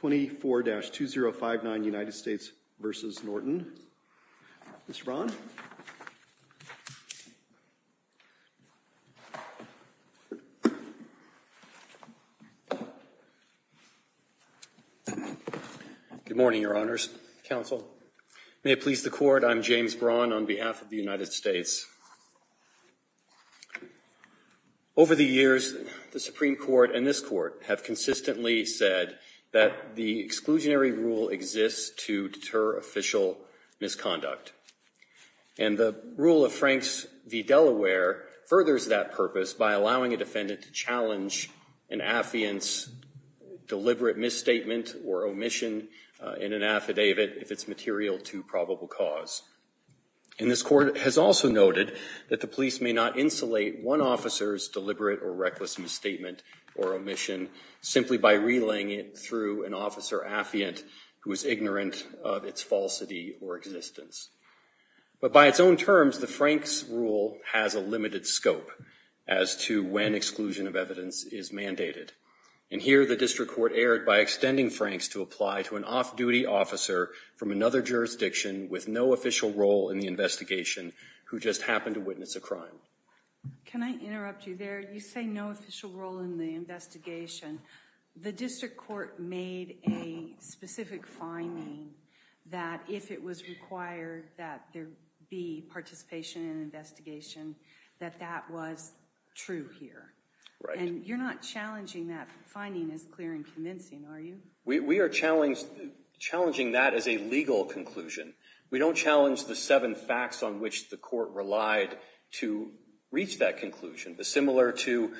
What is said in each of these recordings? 24-2059 United States v. Norton. Mr. Braun? Good morning, Your Honors, Counsel. May it please the Court, I'm James Braun on behalf of the United States. Over the years, the Supreme Court and this Court have consistently said that the exclusionary rule exists to deter official misconduct. And the rule of Franks v. Delaware furthers that purpose by allowing a defendant to challenge an affidavit's deliberate misstatement or omission in an affidavit if it's material to probable cause. And this Court has also noted that the police may not insulate one officer's deliberate or reckless misstatement or omission simply by relaying it through an officer affiant who is ignorant of its falsity or existence. But by its own terms, the Franks rule has a limited scope as to when exclusion of evidence is mandated. And here, the District Court erred by extending Franks to apply to an off-duty officer from another jurisdiction with no official role in the investigation who just happened to witness a crime. Can I interrupt you there? You say no official role in the investigation. The District Court made a specific finding that if it was required that there be participation in an investigation, that that was true here. And you're not challenging that finding as clear and convincing, are you? We are challenging that as a legal conclusion. We don't challenge the seven facts on which the Court relied to reach that conclusion. But similar to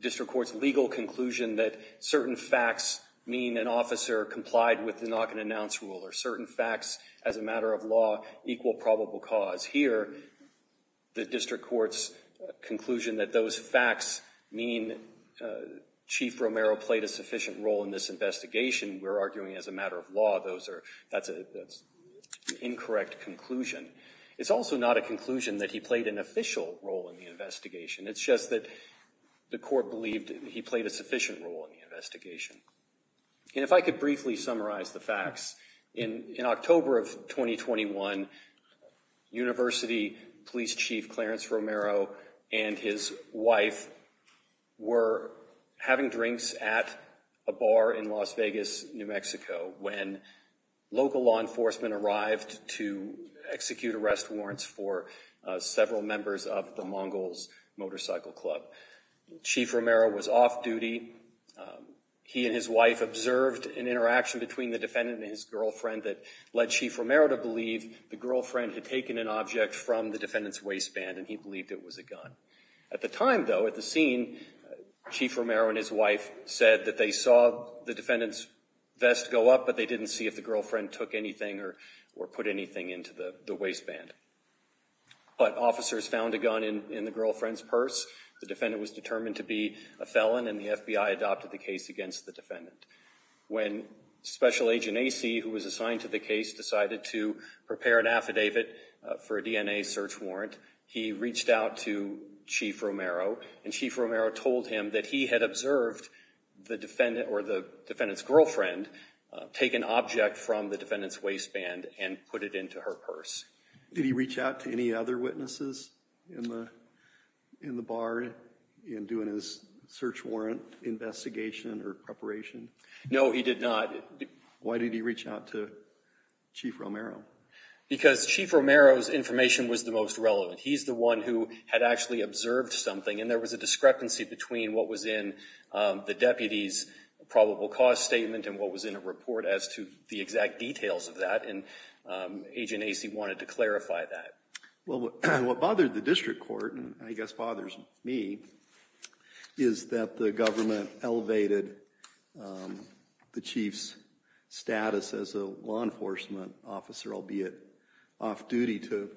District Court's legal conclusion that certain facts mean an officer complied with the knock-and-announce rule, or certain facts as a matter of law equal probable cause, here, the District Court's conclusion that those facts mean Chief Romero played a sufficient role in this investigation, we're arguing as a matter of law that's an incorrect conclusion. It's also not a conclusion that he played an official role in the investigation. It's just that the Court believed he played a sufficient role in the investigation. And if I could briefly summarize the facts. In October of 2021, University Police Chief Clarence Romero and his wife were having drinks at a bar in Las Vegas, New Mexico when local law enforcement arrived to execute arrest warrants for several members of the Mongols Motorcycle Club. Chief Romero was off-duty. He and his wife observed an interaction between the defendant and his girlfriend that led Chief Romero to believe the girlfriend had taken an object from the defendant's waistband, and he believed it was a gun. At the time, though, at the scene, Chief Romero and his wife said that they saw the defendant's vest go up, but they didn't see if the girlfriend took anything or put anything into the waistband. But officers found a gun in the girlfriend's purse. The defendant was determined to be a felon, and the FBI adopted the case against the defendant. When Special Agent Acey, who was assigned to the case, decided to prepare an affidavit for a DNA search warrant, he reached out to Chief Romero, and Chief Romero told him that he had observed the defendant or the defendant's girlfriend take an object from the defendant's waistband and put it into her purse. Did he reach out to any other witnesses in the bar in doing his search warrant investigation or preparation? No, he did not. Why did he reach out to Chief Romero? Because Chief Romero's information was the most relevant. He's the one who had actually observed something, and there was a discrepancy between what was in the deputy's probable cause statement and what was in a report as to the exact details of that, and Agent Acey wanted to clarify that. Well, what bothered the district court, and I guess bothers me, is that the government elevated the chief's status as a law enforcement officer, albeit off-duty, to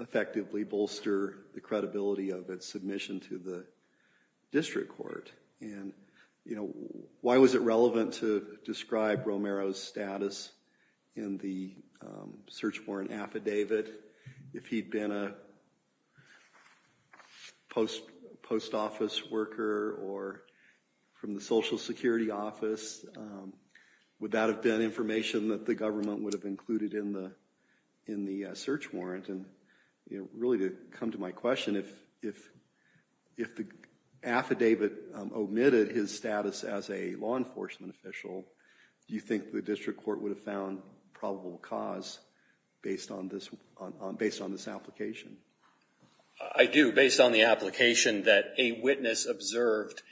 effectively bolster the credibility of its submission to the district court. Why was it relevant to describe Romero's status in the search warrant affidavit if he'd been a post office worker or from the social security office? Would that have been information that the government would have included in the search warrant? And really, to come to my question, if the affidavit omitted his status as a law enforcement official, do you think the district court would have found probable cause based on this application? I do, based on the application that a witness observed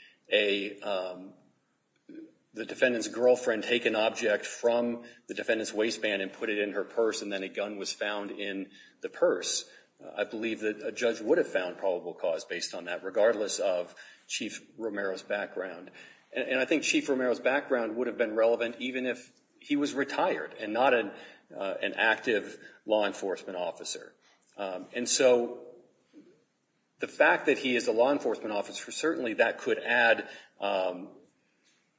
the defendant's girlfriend take an object from the defendant's waistband and put it in her purse, and then a gun was found in the purse. I believe that a judge would have found probable cause based on that, regardless of Chief Romero's background. And I think Chief Romero's background would have been relevant even if he was retired and not an active law enforcement officer. And so the fact that he is a law enforcement officer, certainly that could add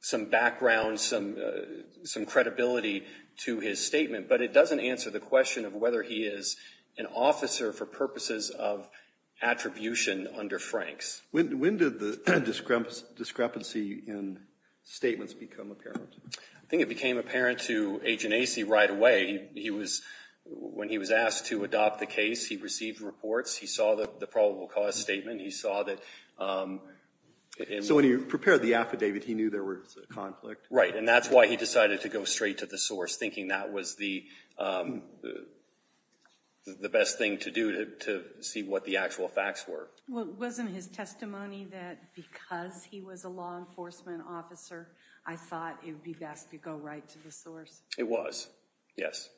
some background, some credibility to his statement, but it doesn't answer the question of whether he is an officer for purposes of attribution under Franks. When did the discrepancy in statements become apparent? I think it became apparent to Agent Acey right away. When he was asked to adopt the case, he received reports. He saw the probable cause statement. He saw that... So when he prepared the affidavit, he knew there was a conflict? Right. And that's why he decided to go straight to the source, thinking that was the best thing to do to see what the actual facts were. Wasn't his testimony that because he was a law enforcement officer, I thought it would be best to go right to the source? It was. Yes.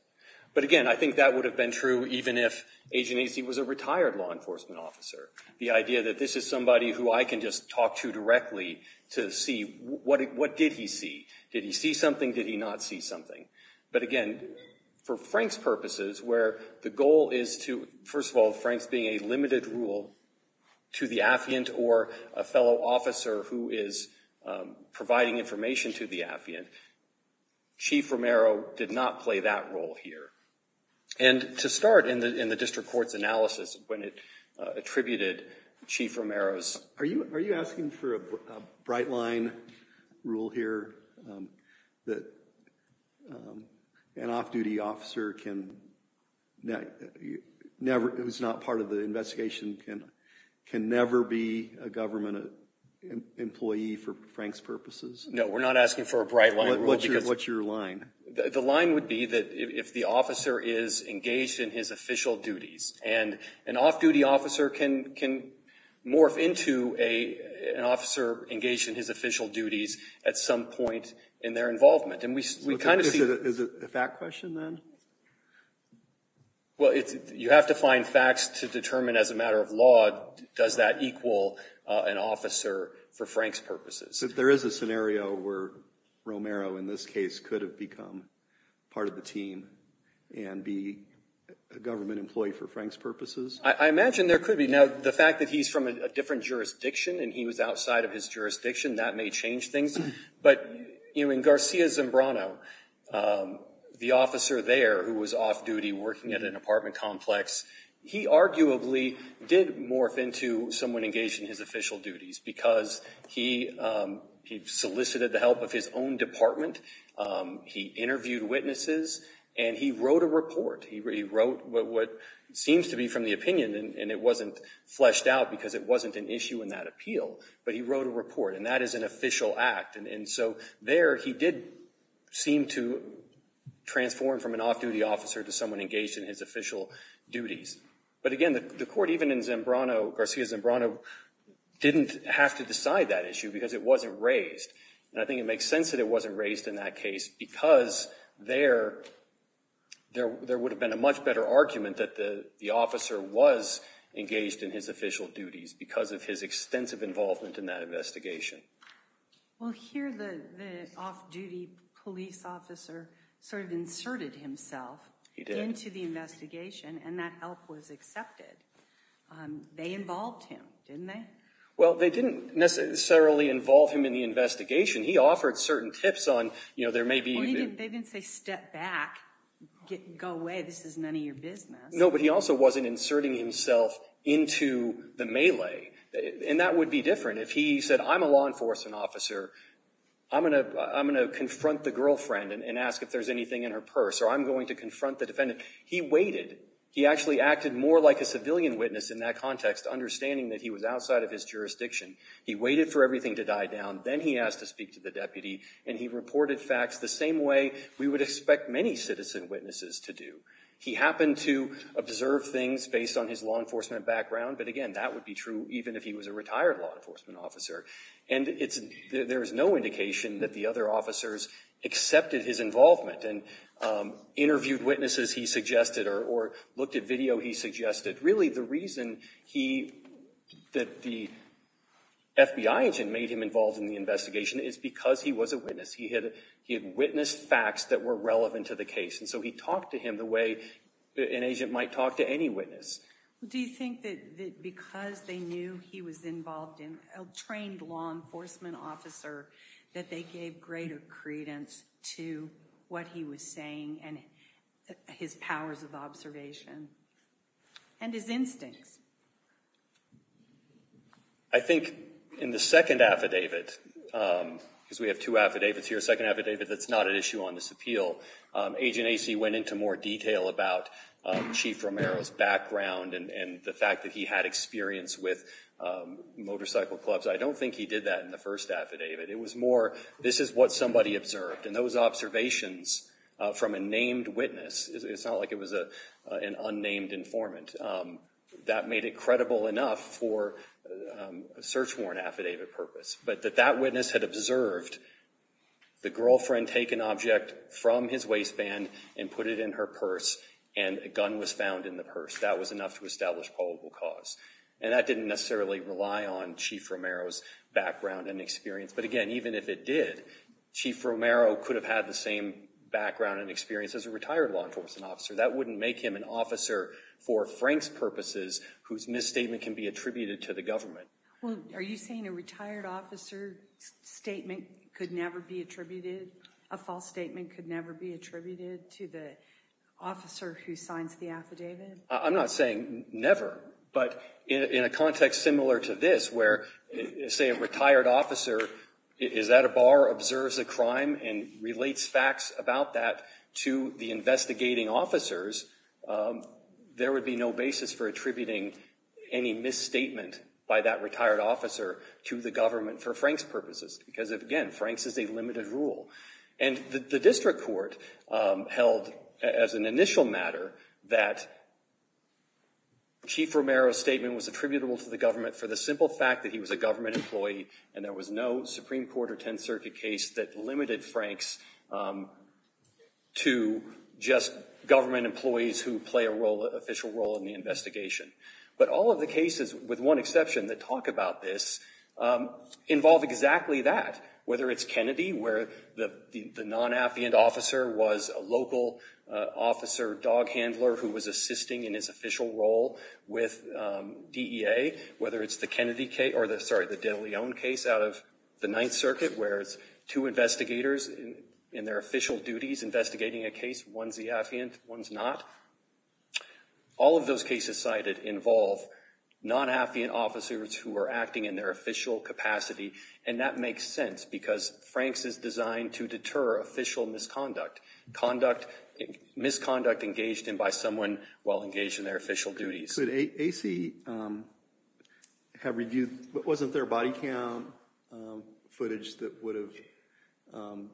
But again, I think that would have been true even if Agent Acey was a retired law enforcement officer. The idea that this is somebody who I can just talk to directly to see what did he see? Did he see something? Did he not see something? But again, for Franks' purposes, where the goal is to... First of all, Franks being a limited rule to the affiant or a fellow officer who is providing information to the affiant, Chief Romero did not play that role here. And to start in the district court's analysis when it attributed Chief Romero's... Are you asking for a bright line rule here that an off-duty officer who's not part of the investigation can never be a government employee for Franks' purposes? No, we're not asking for a bright line rule. What's your line? The line would be that if the officer is engaged in his official duties, and an off-duty officer can morph into an officer engaged in his official duties at some point in their involvement. And we kind of see... Is it a fact question then? Well, you have to find facts to determine as a matter of law, does that equal an officer for Franks' purposes? So there is a scenario where Romero in this case could have become part of the team and be a government employee for Franks' purposes? I imagine there could be. Now, the fact that he's from a different jurisdiction and he was outside of his jurisdiction, that may change things. But in Garcia Zambrano, the officer there who was off-duty working at an apartment complex, he arguably did morph into someone engaged in his official duties because he solicited the help of his own department, he interviewed witnesses, and he wrote a report. He wrote what seems to be from the opinion, and it wasn't fleshed out because it wasn't an issue in that appeal, but he wrote a report, and that is an official act. And so there, he did seem to transform from an off-duty officer to someone engaged in his official duties. But again, the court, even in Garcia Zambrano, didn't have to decide that issue because it wasn't raised. And I think it makes sense that it wasn't raised in that case because there would have been a much better argument that the officer was engaged in his official duties because of his extensive involvement in that investigation. Well, here the off-duty police officer sort of inserted himself into the investigation and that help was accepted. They involved him, didn't they? Well, they didn't necessarily involve him in the investigation. He offered certain tips on, you know, there may be- Well, they didn't say step back, go away, this is none of your business. No, but he also wasn't inserting himself into the melee, and that would be different. If he said, I'm a law enforcement officer, I'm going to confront the girlfriend and ask if there's anything in her purse, or I'm going to confront the defendant, he waited. He actually acted more like a civilian witness in that context, understanding that he was outside of his jurisdiction. He waited for everything to die down, then he asked to speak to the deputy, and he reported facts the same way we would expect many citizen witnesses to do. He happened to observe things based on his law enforcement background, but again, that would be true even if he was a retired law enforcement officer. And there is no indication that the other officers accepted his involvement and interviewed witnesses he suggested or looked at video he suggested. Really, the reason that the FBI agent made him involved in the investigation is because he was a witness. He had witnessed facts that were relevant to the case, and so he talked to him the way an agent might talk to any witness. Do you think that because they knew he was involved in- a trained law enforcement officer, that they gave greater credence to what he was saying and his powers of observation? And his instincts? I think in the second affidavit, because we have two affidavits here, second affidavit that's not an issue on this appeal, Agent Acey went into more detail about Chief Romero's background and the fact that he had experience with motorcycle clubs. I don't think he did that in the first affidavit. It was more, this is what somebody observed, and those observations from a named witness, it's not like it was an unnamed informant, that made it credible enough for a search warrant affidavit purpose. But that that witness had observed the girlfriend take an object from his waistband and put it in her purse and a gun was found in the purse. That was enough to establish probable cause. And that didn't necessarily rely on Chief Romero's background and experience. But again, even if it did, Chief Romero could have had the same background and experience as a retired law enforcement officer. That wouldn't make him an officer, for Frank's purposes, whose misstatement can be attributed to the government. Well, are you saying a retired officer statement could never be attributed, a false statement could never be attributed to the officer who signs the affidavit? I'm not saying never, but in a context similar to this, where say a retired officer is at a bar, observes a crime, and relates facts about that to the investigating officers, there would be no basis for attributing any misstatement by that retired officer to the government for Frank's purposes. Because again, Frank's is a limited rule. And the district court held as an initial matter that Chief Romero's statement was attributable to the government for the simple fact that he was a government employee and there was no Supreme Court or Tenth Circuit case that limited Frank's to just government employees who play an official role in the investigation. But all of the cases, with one exception, that talk about this, involve exactly that. Whether it's Kennedy, where the non-affiant officer was a local officer, dog handler, who was assisting in his official role with DEA. Whether it's the Kennedy case, or the, sorry, the de Leon case out of the Ninth Circuit, where it's two investigators in their official duties investigating a case, one's the affiant, one's not. All of those cases cited involve non-affiant officers who are acting in their official capacity. And that makes sense, because Frank's is designed to deter official misconduct, conduct, misconduct engaged in by someone while engaged in their official duties. Could A.C. have reviewed, wasn't there body cam footage that would have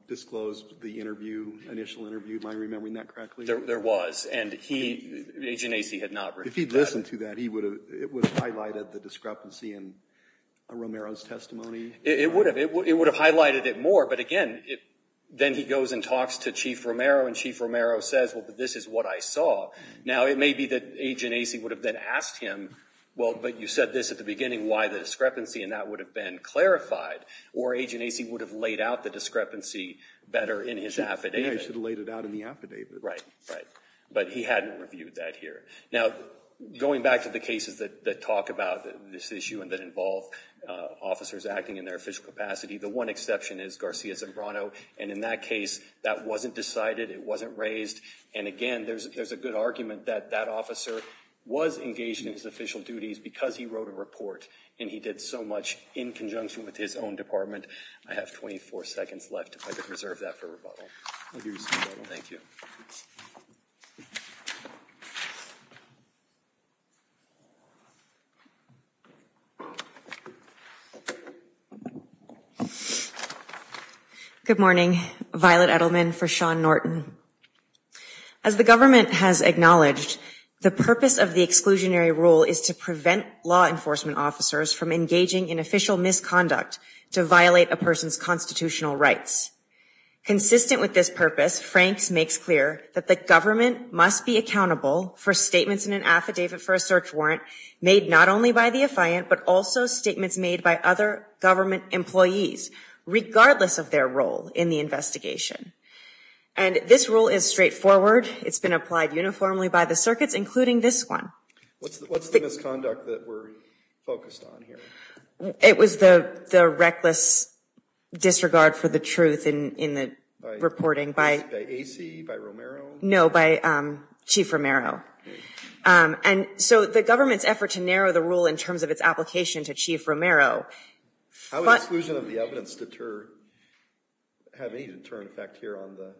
disclosed the interview, initial interview, am I remembering that correctly? There was, and he, Agent A.C. had not reviewed that. If he'd listened to that, it would have highlighted the discrepancy in Romero's testimony. It would have. It would have highlighted it more, but again, then he goes and talks to Chief Romero and Chief Romero says, well, this is what I saw. Now, it may be that Agent A.C. would have then asked him, well, but you said this at the beginning, why the discrepancy, and that would have been clarified. Or Agent A.C. would have laid out the discrepancy better in his affidavit. He should have laid it out in the affidavit. Right, right. But he hadn't reviewed that here. Now, going back to the cases that talk about this issue and that involve officers acting in their official capacity, the one exception is Garcia-Zambrano. And in that case, that wasn't decided, it wasn't raised. And again, there's a good argument that that officer was engaged in his official duties because he wrote a report, and he did so much in conjunction with his own department. I have 24 seconds left, if I could reserve that for rebuttal. I'll give you some rebuttal. Thank you. Good morning. Violet Edelman for Sean Norton. As the government has acknowledged, the purpose of the exclusionary rule is to prevent law enforcement officers from engaging in official misconduct to violate a person's constitutional rights. Consistent with this purpose, Franks makes clear that the government must be accountable for statements in an affidavit for a search warrant made not only by the affiant, but also statements made by other government employees, regardless of their role in the investigation. And this rule is straightforward. It's been applied uniformly by the circuits, including this one. What's the misconduct that we're focused on here? It was the reckless disregard for the truth in the reporting by AC, by Romero? No, by Chief Romero. And so the government's effort to narrow the rule in terms of its application to Chief Romero. How does exclusion of the evidence deter, have any deterrent effect here on the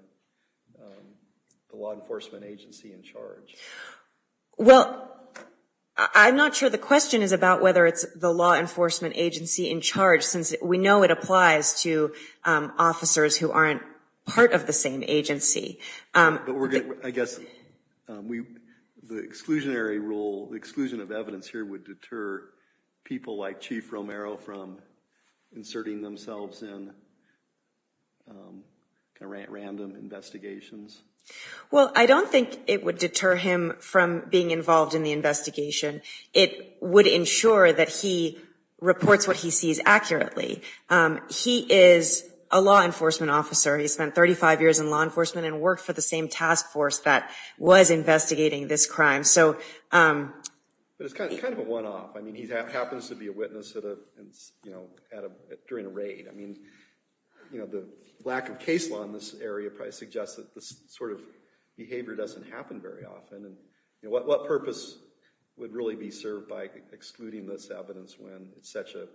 law enforcement agency in charge? Well, I'm not sure the question is about whether it's the law enforcement agency in charge, since we know it applies to officers who aren't part of the same agency. But I guess the exclusionary rule, the exclusion of evidence here would deter people like Chief Romero from inserting themselves in random investigations? Well, I don't think it would deter him from being involved in the investigation. It would ensure that he reports what he sees accurately. He is a law enforcement officer. He spent 35 years in law enforcement and worked for the same task force that was investigating this crime. But it's kind of a one-off. I mean, he happens to be a witness during a raid. I mean, the lack of case law in this area probably suggests that this sort of behavior doesn't happen very often. What purpose would really be served by excluding this evidence when it's such an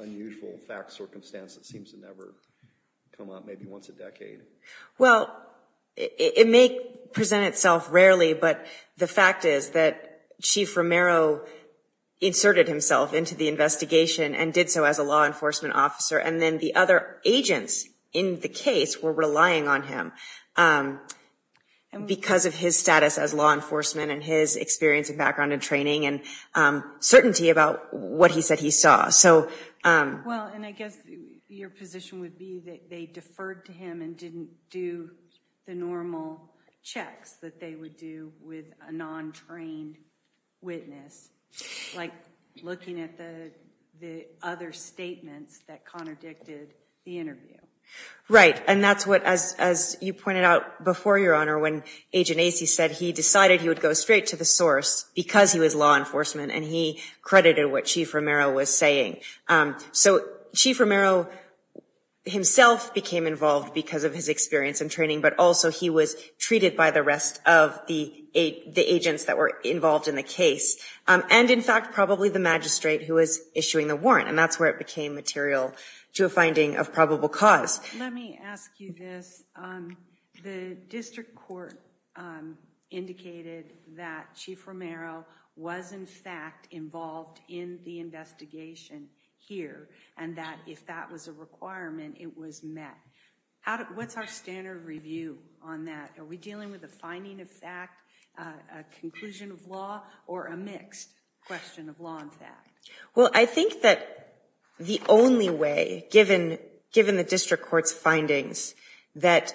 unusual fact and circumstance that seems to never come up, maybe once a decade? Well, it may present itself rarely, but the fact is that Chief Romero inserted himself into the investigation and did so as a law enforcement officer. And then the other agents in the case were relying on him because of his status as law enforcement and his experience and background and training and certainty about what he said he saw. Well, and I guess your position would be that they deferred to him and didn't do the normal checks that they would do with a non-trained witness, like looking at the other statements that contradicted the interview. Right. And that's what, as you pointed out before, Your Honor, when Agent Acey said he decided he would go straight to the source because he was law enforcement and he credited what Chief Romero was saying. So Chief Romero himself became involved because of his experience and training, but also he was treated by the rest of the agents that were involved in the case, and in fact, probably the magistrate who was issuing the warrant, and that's where it became material to a finding of probable cause. Let me ask you this. The district court indicated that Chief Romero was, in fact, involved in the investigation here, and that if that was a requirement, it was met. What's our standard review on that? Are we dealing with a finding of fact, a conclusion of law, or a mixed question of law and fact? Well, I think that the only way, given the district court's findings, that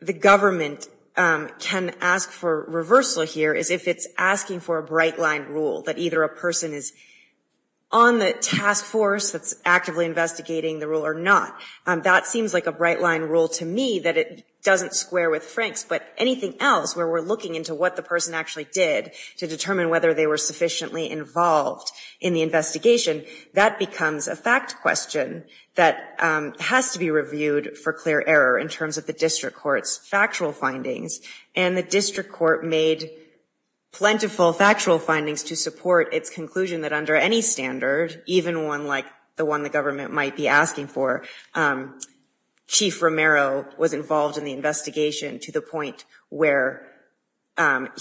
the government can ask for reversal here is if it's asking for a bright-line rule, that either a person is on the task force that's actively investigating the rule or not. That seems like a bright-line rule to me, that it doesn't square with Frank's, but anything else where we're looking into what the person actually did to determine whether they were sufficiently involved in the investigation, that becomes a fact question that has to be reviewed for clear error in terms of the district court's factual findings. And the district court made plentiful factual findings to support its conclusion that under any standard, even one like the one the government might be asking for, Chief Romero was involved in the investigation to the point where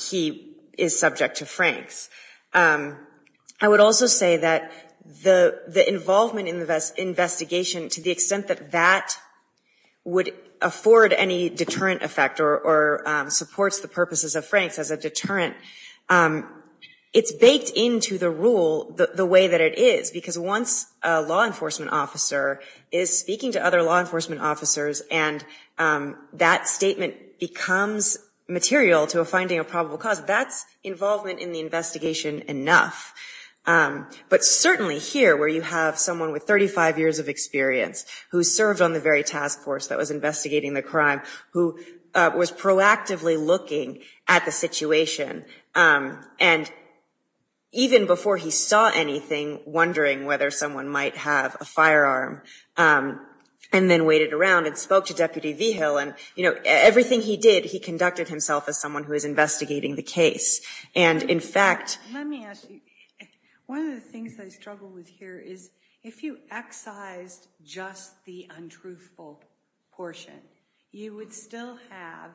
he is subject to Frank's. I would also say that the involvement in the investigation, to the extent that that would afford any deterrent effect or supports the purposes of Frank's as a deterrent, it's baked into the rule the way that it is, because once a law enforcement officer is speaking to other law enforcement officers and that statement becomes material to a finding of probable cause, that's involvement in the investigation enough. But certainly here, where you have someone with 35 years of experience who served on the very task force that was investigating the crime, who was proactively looking at the situation, and even before he saw anything, wondering whether someone might have a firearm, and then waited around and spoke to Deputy Vigil, and everything he did, he conducted himself as someone who was investigating the case. And in fact- Let me ask you. One of the things I struggle with here is if you excised just the untruthful portion, you would still have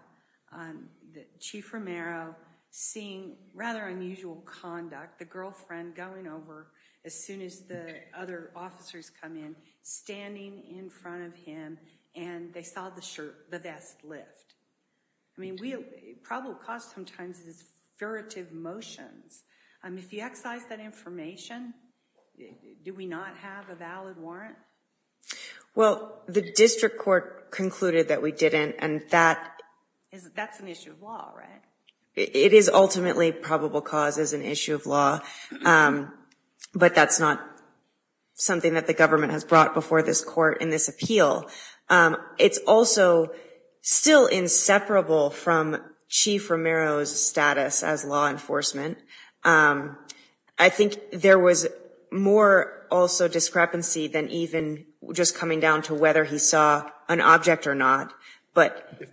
Chief Romero seeing rather unusual conduct, the girlfriend going over as soon as the other officers come in, standing in front of him, and they saw the vest lift. I mean, probable cause sometimes is furtive motions. If you excise that information, do we not have a valid warrant? Well, the district court concluded that we didn't, and that- That's an issue of law, right? It is ultimately probable cause is an issue of law, but that's not something that the government has brought before this court in this appeal. It's also still inseparable from Chief Romero's status as law enforcement. I think there was more also discrepancy than even just coming down to whether he saw an object or not, but- As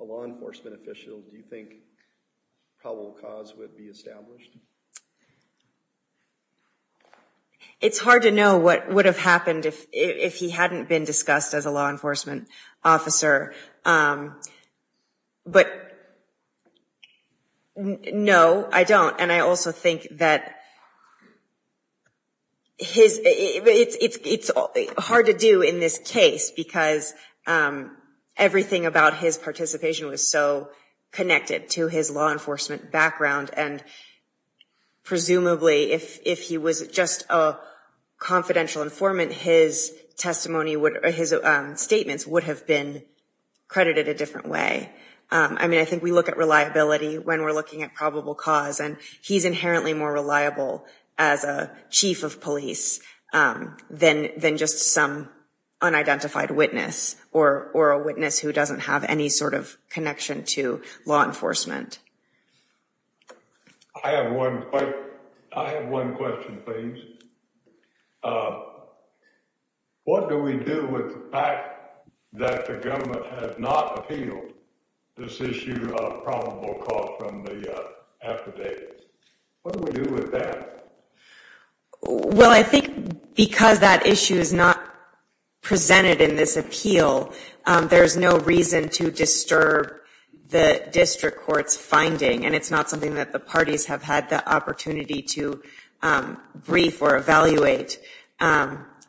a law enforcement official, do you think probable cause would be established? It's hard to know what would have happened if he hadn't been discussed as a law enforcement officer, but no, I don't. I also think that it's hard to do in this case because everything about his participation was so connected to his law enforcement background, and presumably if he was just a confidential informant, his testimony, his statements would have been credited a different way. I mean, I think we look at reliability when we're looking at probable cause, and he's inherently more reliable as a chief of police than just some unidentified witness or a witness who doesn't have any sort of connection to law enforcement. I have one- I have one question, please. What do we do with the fact that the government has not appealed this issue of probable cause from the affidavits? What do we do with that? Well, I think because that issue is not presented in this appeal, there's no reason to disturb the district court's finding, and it's not something that the parties have had the opportunity to brief or evaluate.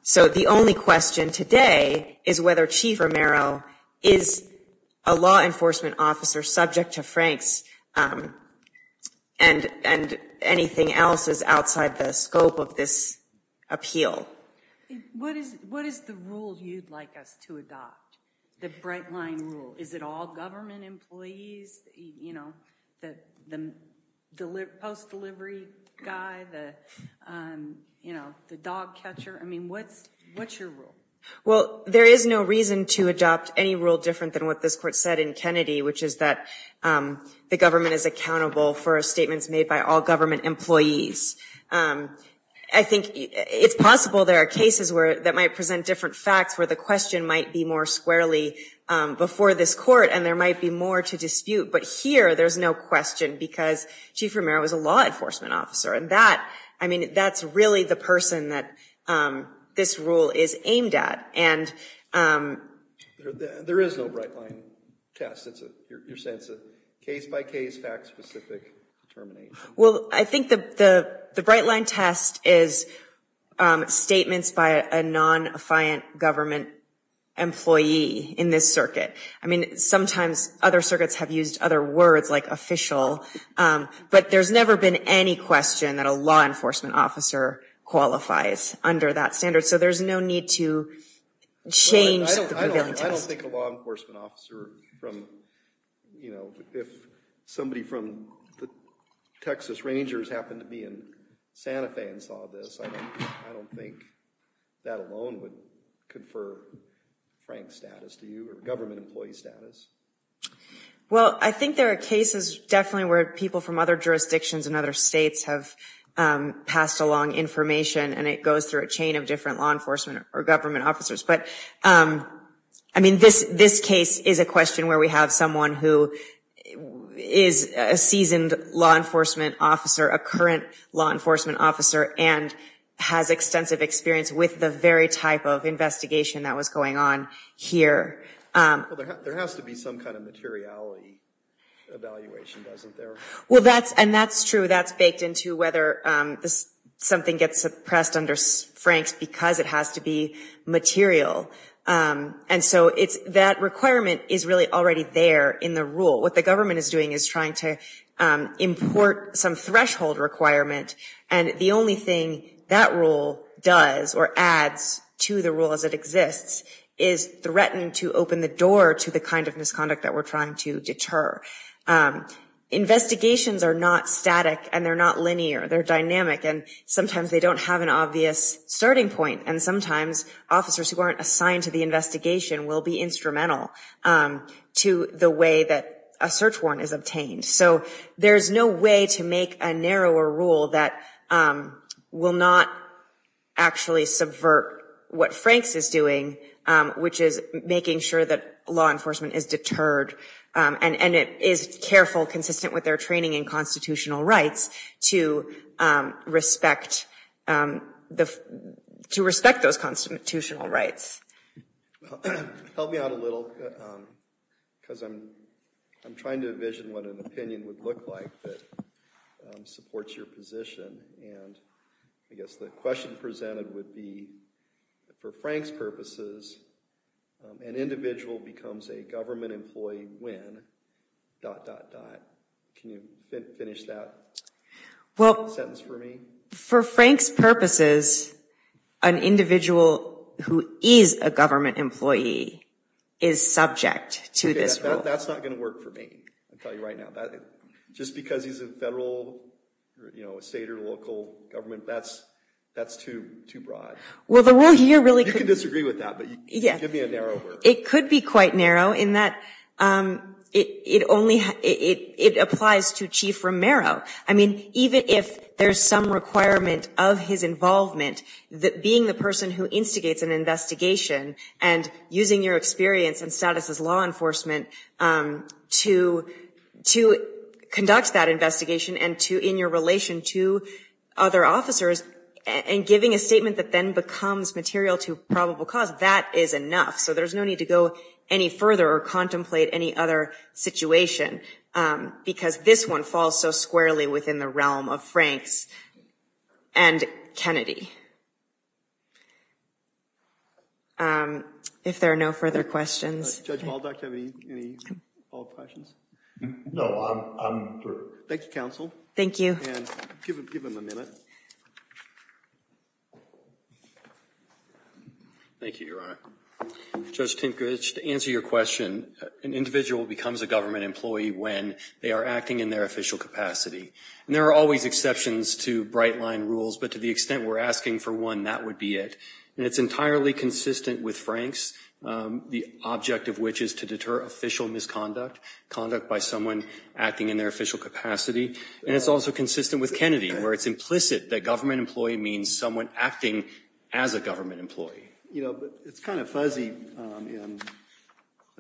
So the only question today is whether Chief Romero is a law enforcement officer subject to Frank's, and anything else is outside the scope of this appeal. What is the rule you'd like us to adopt, the bright-line rule? Is it all government employees, you know, the post-delivery guy, the dog catcher? I mean, what's your rule? Well, there is no reason to adopt any rule different than what this court said in Kennedy, which is that the government is accountable for statements made by all government employees. I think it's possible there are cases that might present different facts where the question might be more squarely before this court, and there might be more to dispute, but here there's no question because Chief Romero is a law enforcement officer, and that, I mean, that's really the person that this rule is aimed at. There is no bright-line test. You're saying it's a case-by-case, fact-specific determination. Well, I think the bright-line test is statements by a non-fiant government employee in this circuit. I mean, sometimes other circuits have used other words like official, but there's never been any question that a law enforcement officer qualifies under that standard, so there's no need to change the prevailing test. I don't think a law enforcement officer from, you know, if somebody from the Texas Rangers happened to be in Santa Fe and saw this, I don't think that alone would confer frank status to you or government employee status. Well, I think there are cases definitely where people from other jurisdictions and other states have passed along information, and it goes through a chain of different law enforcement or government officers. But I mean, this case is a question where we have someone who is a seasoned law enforcement officer, a current law enforcement officer, and has extensive experience with the very type of investigation that was going on here. Well, there has to be some kind of materiality evaluation, doesn't there? Well, and that's true. That's baked into whether something gets suppressed under franks because it has to be material, and so that requirement is really already there in the rule. What the government is doing is trying to import some threshold requirement, and the only thing that rule does or adds to the rule as it exists is threaten to open the door to the kind of misconduct that we're trying to deter. Investigations are not static, and they're not linear, they're dynamic, and sometimes they don't have an obvious starting point, and sometimes officers who aren't assigned to the investigation will be instrumental to the way that a search warrant is obtained. So there's no way to make a narrower rule that will not actually subvert what Franks is doing, which is making sure that law enforcement is deterred, and it is careful, consistent with their training in constitutional rights, to respect those constitutional rights. Help me out a little, because I'm trying to envision what an opinion would look like that supports your position, and I guess the question presented would be, for Frank's purposes, an individual becomes a government employee when... Can you finish that sentence for me? For Frank's purposes, an individual who is a government employee is subject to this rule. That's not going to work for me, I'll tell you right now. Just because he's a federal, state, or local government, that's too broad. You can disagree with that, but give me a narrow word. It could be quite narrow in that it applies to Chief Romero. I mean, even if there's some requirement of his involvement, being the person who instigates an investigation, and using your experience and status as law enforcement to conduct that investigation, and in your relation to other officers, and giving a statement that then becomes material to probable cause, that is enough. There's no need to go any further, or contemplate any other situation, because this one falls so squarely within the realm of Frank's and Kennedy. If there are no further questions... Judge Muldock, do you have any follow-up questions? No, I'm through. Thank you, counsel. Thank you. And give him a minute. Thank you, Your Honor. Judge Tinkrich, to answer your question, an individual becomes a government employee when they are acting in their official capacity. And there are always exceptions to bright-line rules, but to the extent we're asking for one, that would be it. And it's entirely consistent with Frank's, the object of which is to deter official misconduct, conduct by someone acting in their official capacity. And it's also consistent with Kennedy, where it's implicit that government employee means someone acting as a government employee. You know, but it's kind of fuzzy in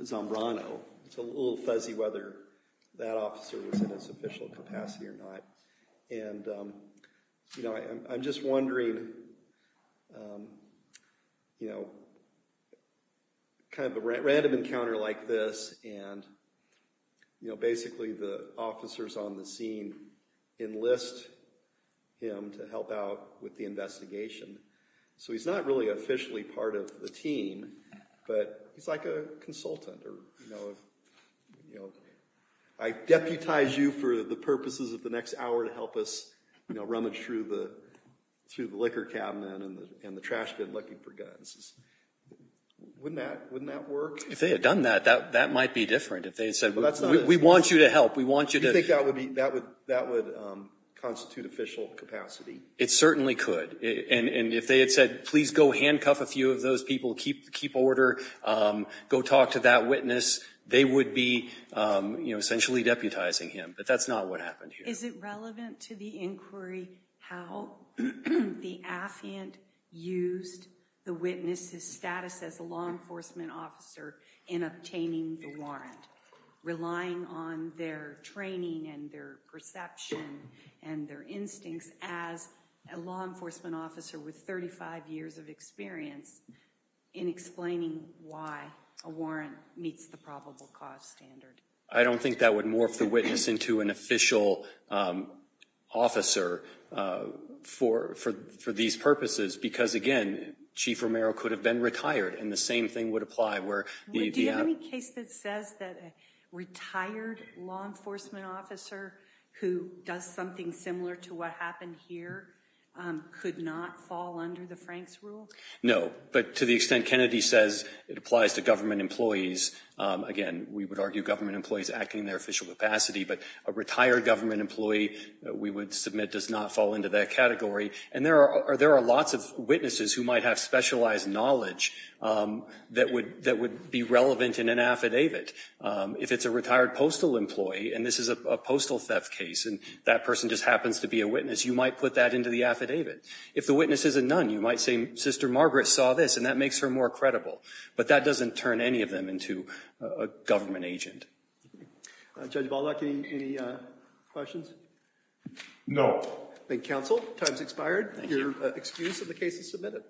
Zambrano. It's a little fuzzy whether that officer was in his official capacity or not. And, you know, I'm just wondering, you know, kind of a random encounter like this, and, you know, basically the officers on the scene enlist him to help out with the investigation. So he's not really officially part of the team, but he's like a consultant or, you know, I deputize you for the purposes of the next hour to help us, you know, rummage through the liquor cabinet and the trash bin looking for guns. Wouldn't that work? If they had done that, that might be different. If they had said, we want you to help, we want you to- You think that would constitute official capacity? It certainly could. And if they had said, please go handcuff a few of those people, keep order, go talk to that witness, they would be, you know, essentially deputizing him. But that's not what happened here. Is it relevant to the inquiry how the affiant used the witness's status as a law enforcement officer in obtaining the warrant, relying on their training and their perception and their instincts as a law enforcement officer with 35 years of experience in explaining why a warrant meets the probable cause standard? I don't think that would morph the witness into an official officer for these purposes, because again, Chief Romero could have been retired and the same thing would apply where- Do you have any case that says that a retired law enforcement officer who does something similar to what happened here could not fall under the Franks rule? No, but to the extent Kennedy says it applies to government employees, again, we would argue government employees acting in their official capacity, but a retired government employee we would submit does not fall into that category. And there are lots of witnesses who might have specialized knowledge that would be relevant in an affidavit. If it's a retired postal employee and this is a postal theft case and that person just happens to be a witness, you might put that into the affidavit. If the witness is a nun, you might say Sister Margaret saw this and that makes her more credible, but that doesn't turn any of them into a government agent. Judge Baldock, any questions? No. Thank you, counsel. Time's expired. You're excused and the case is submitted.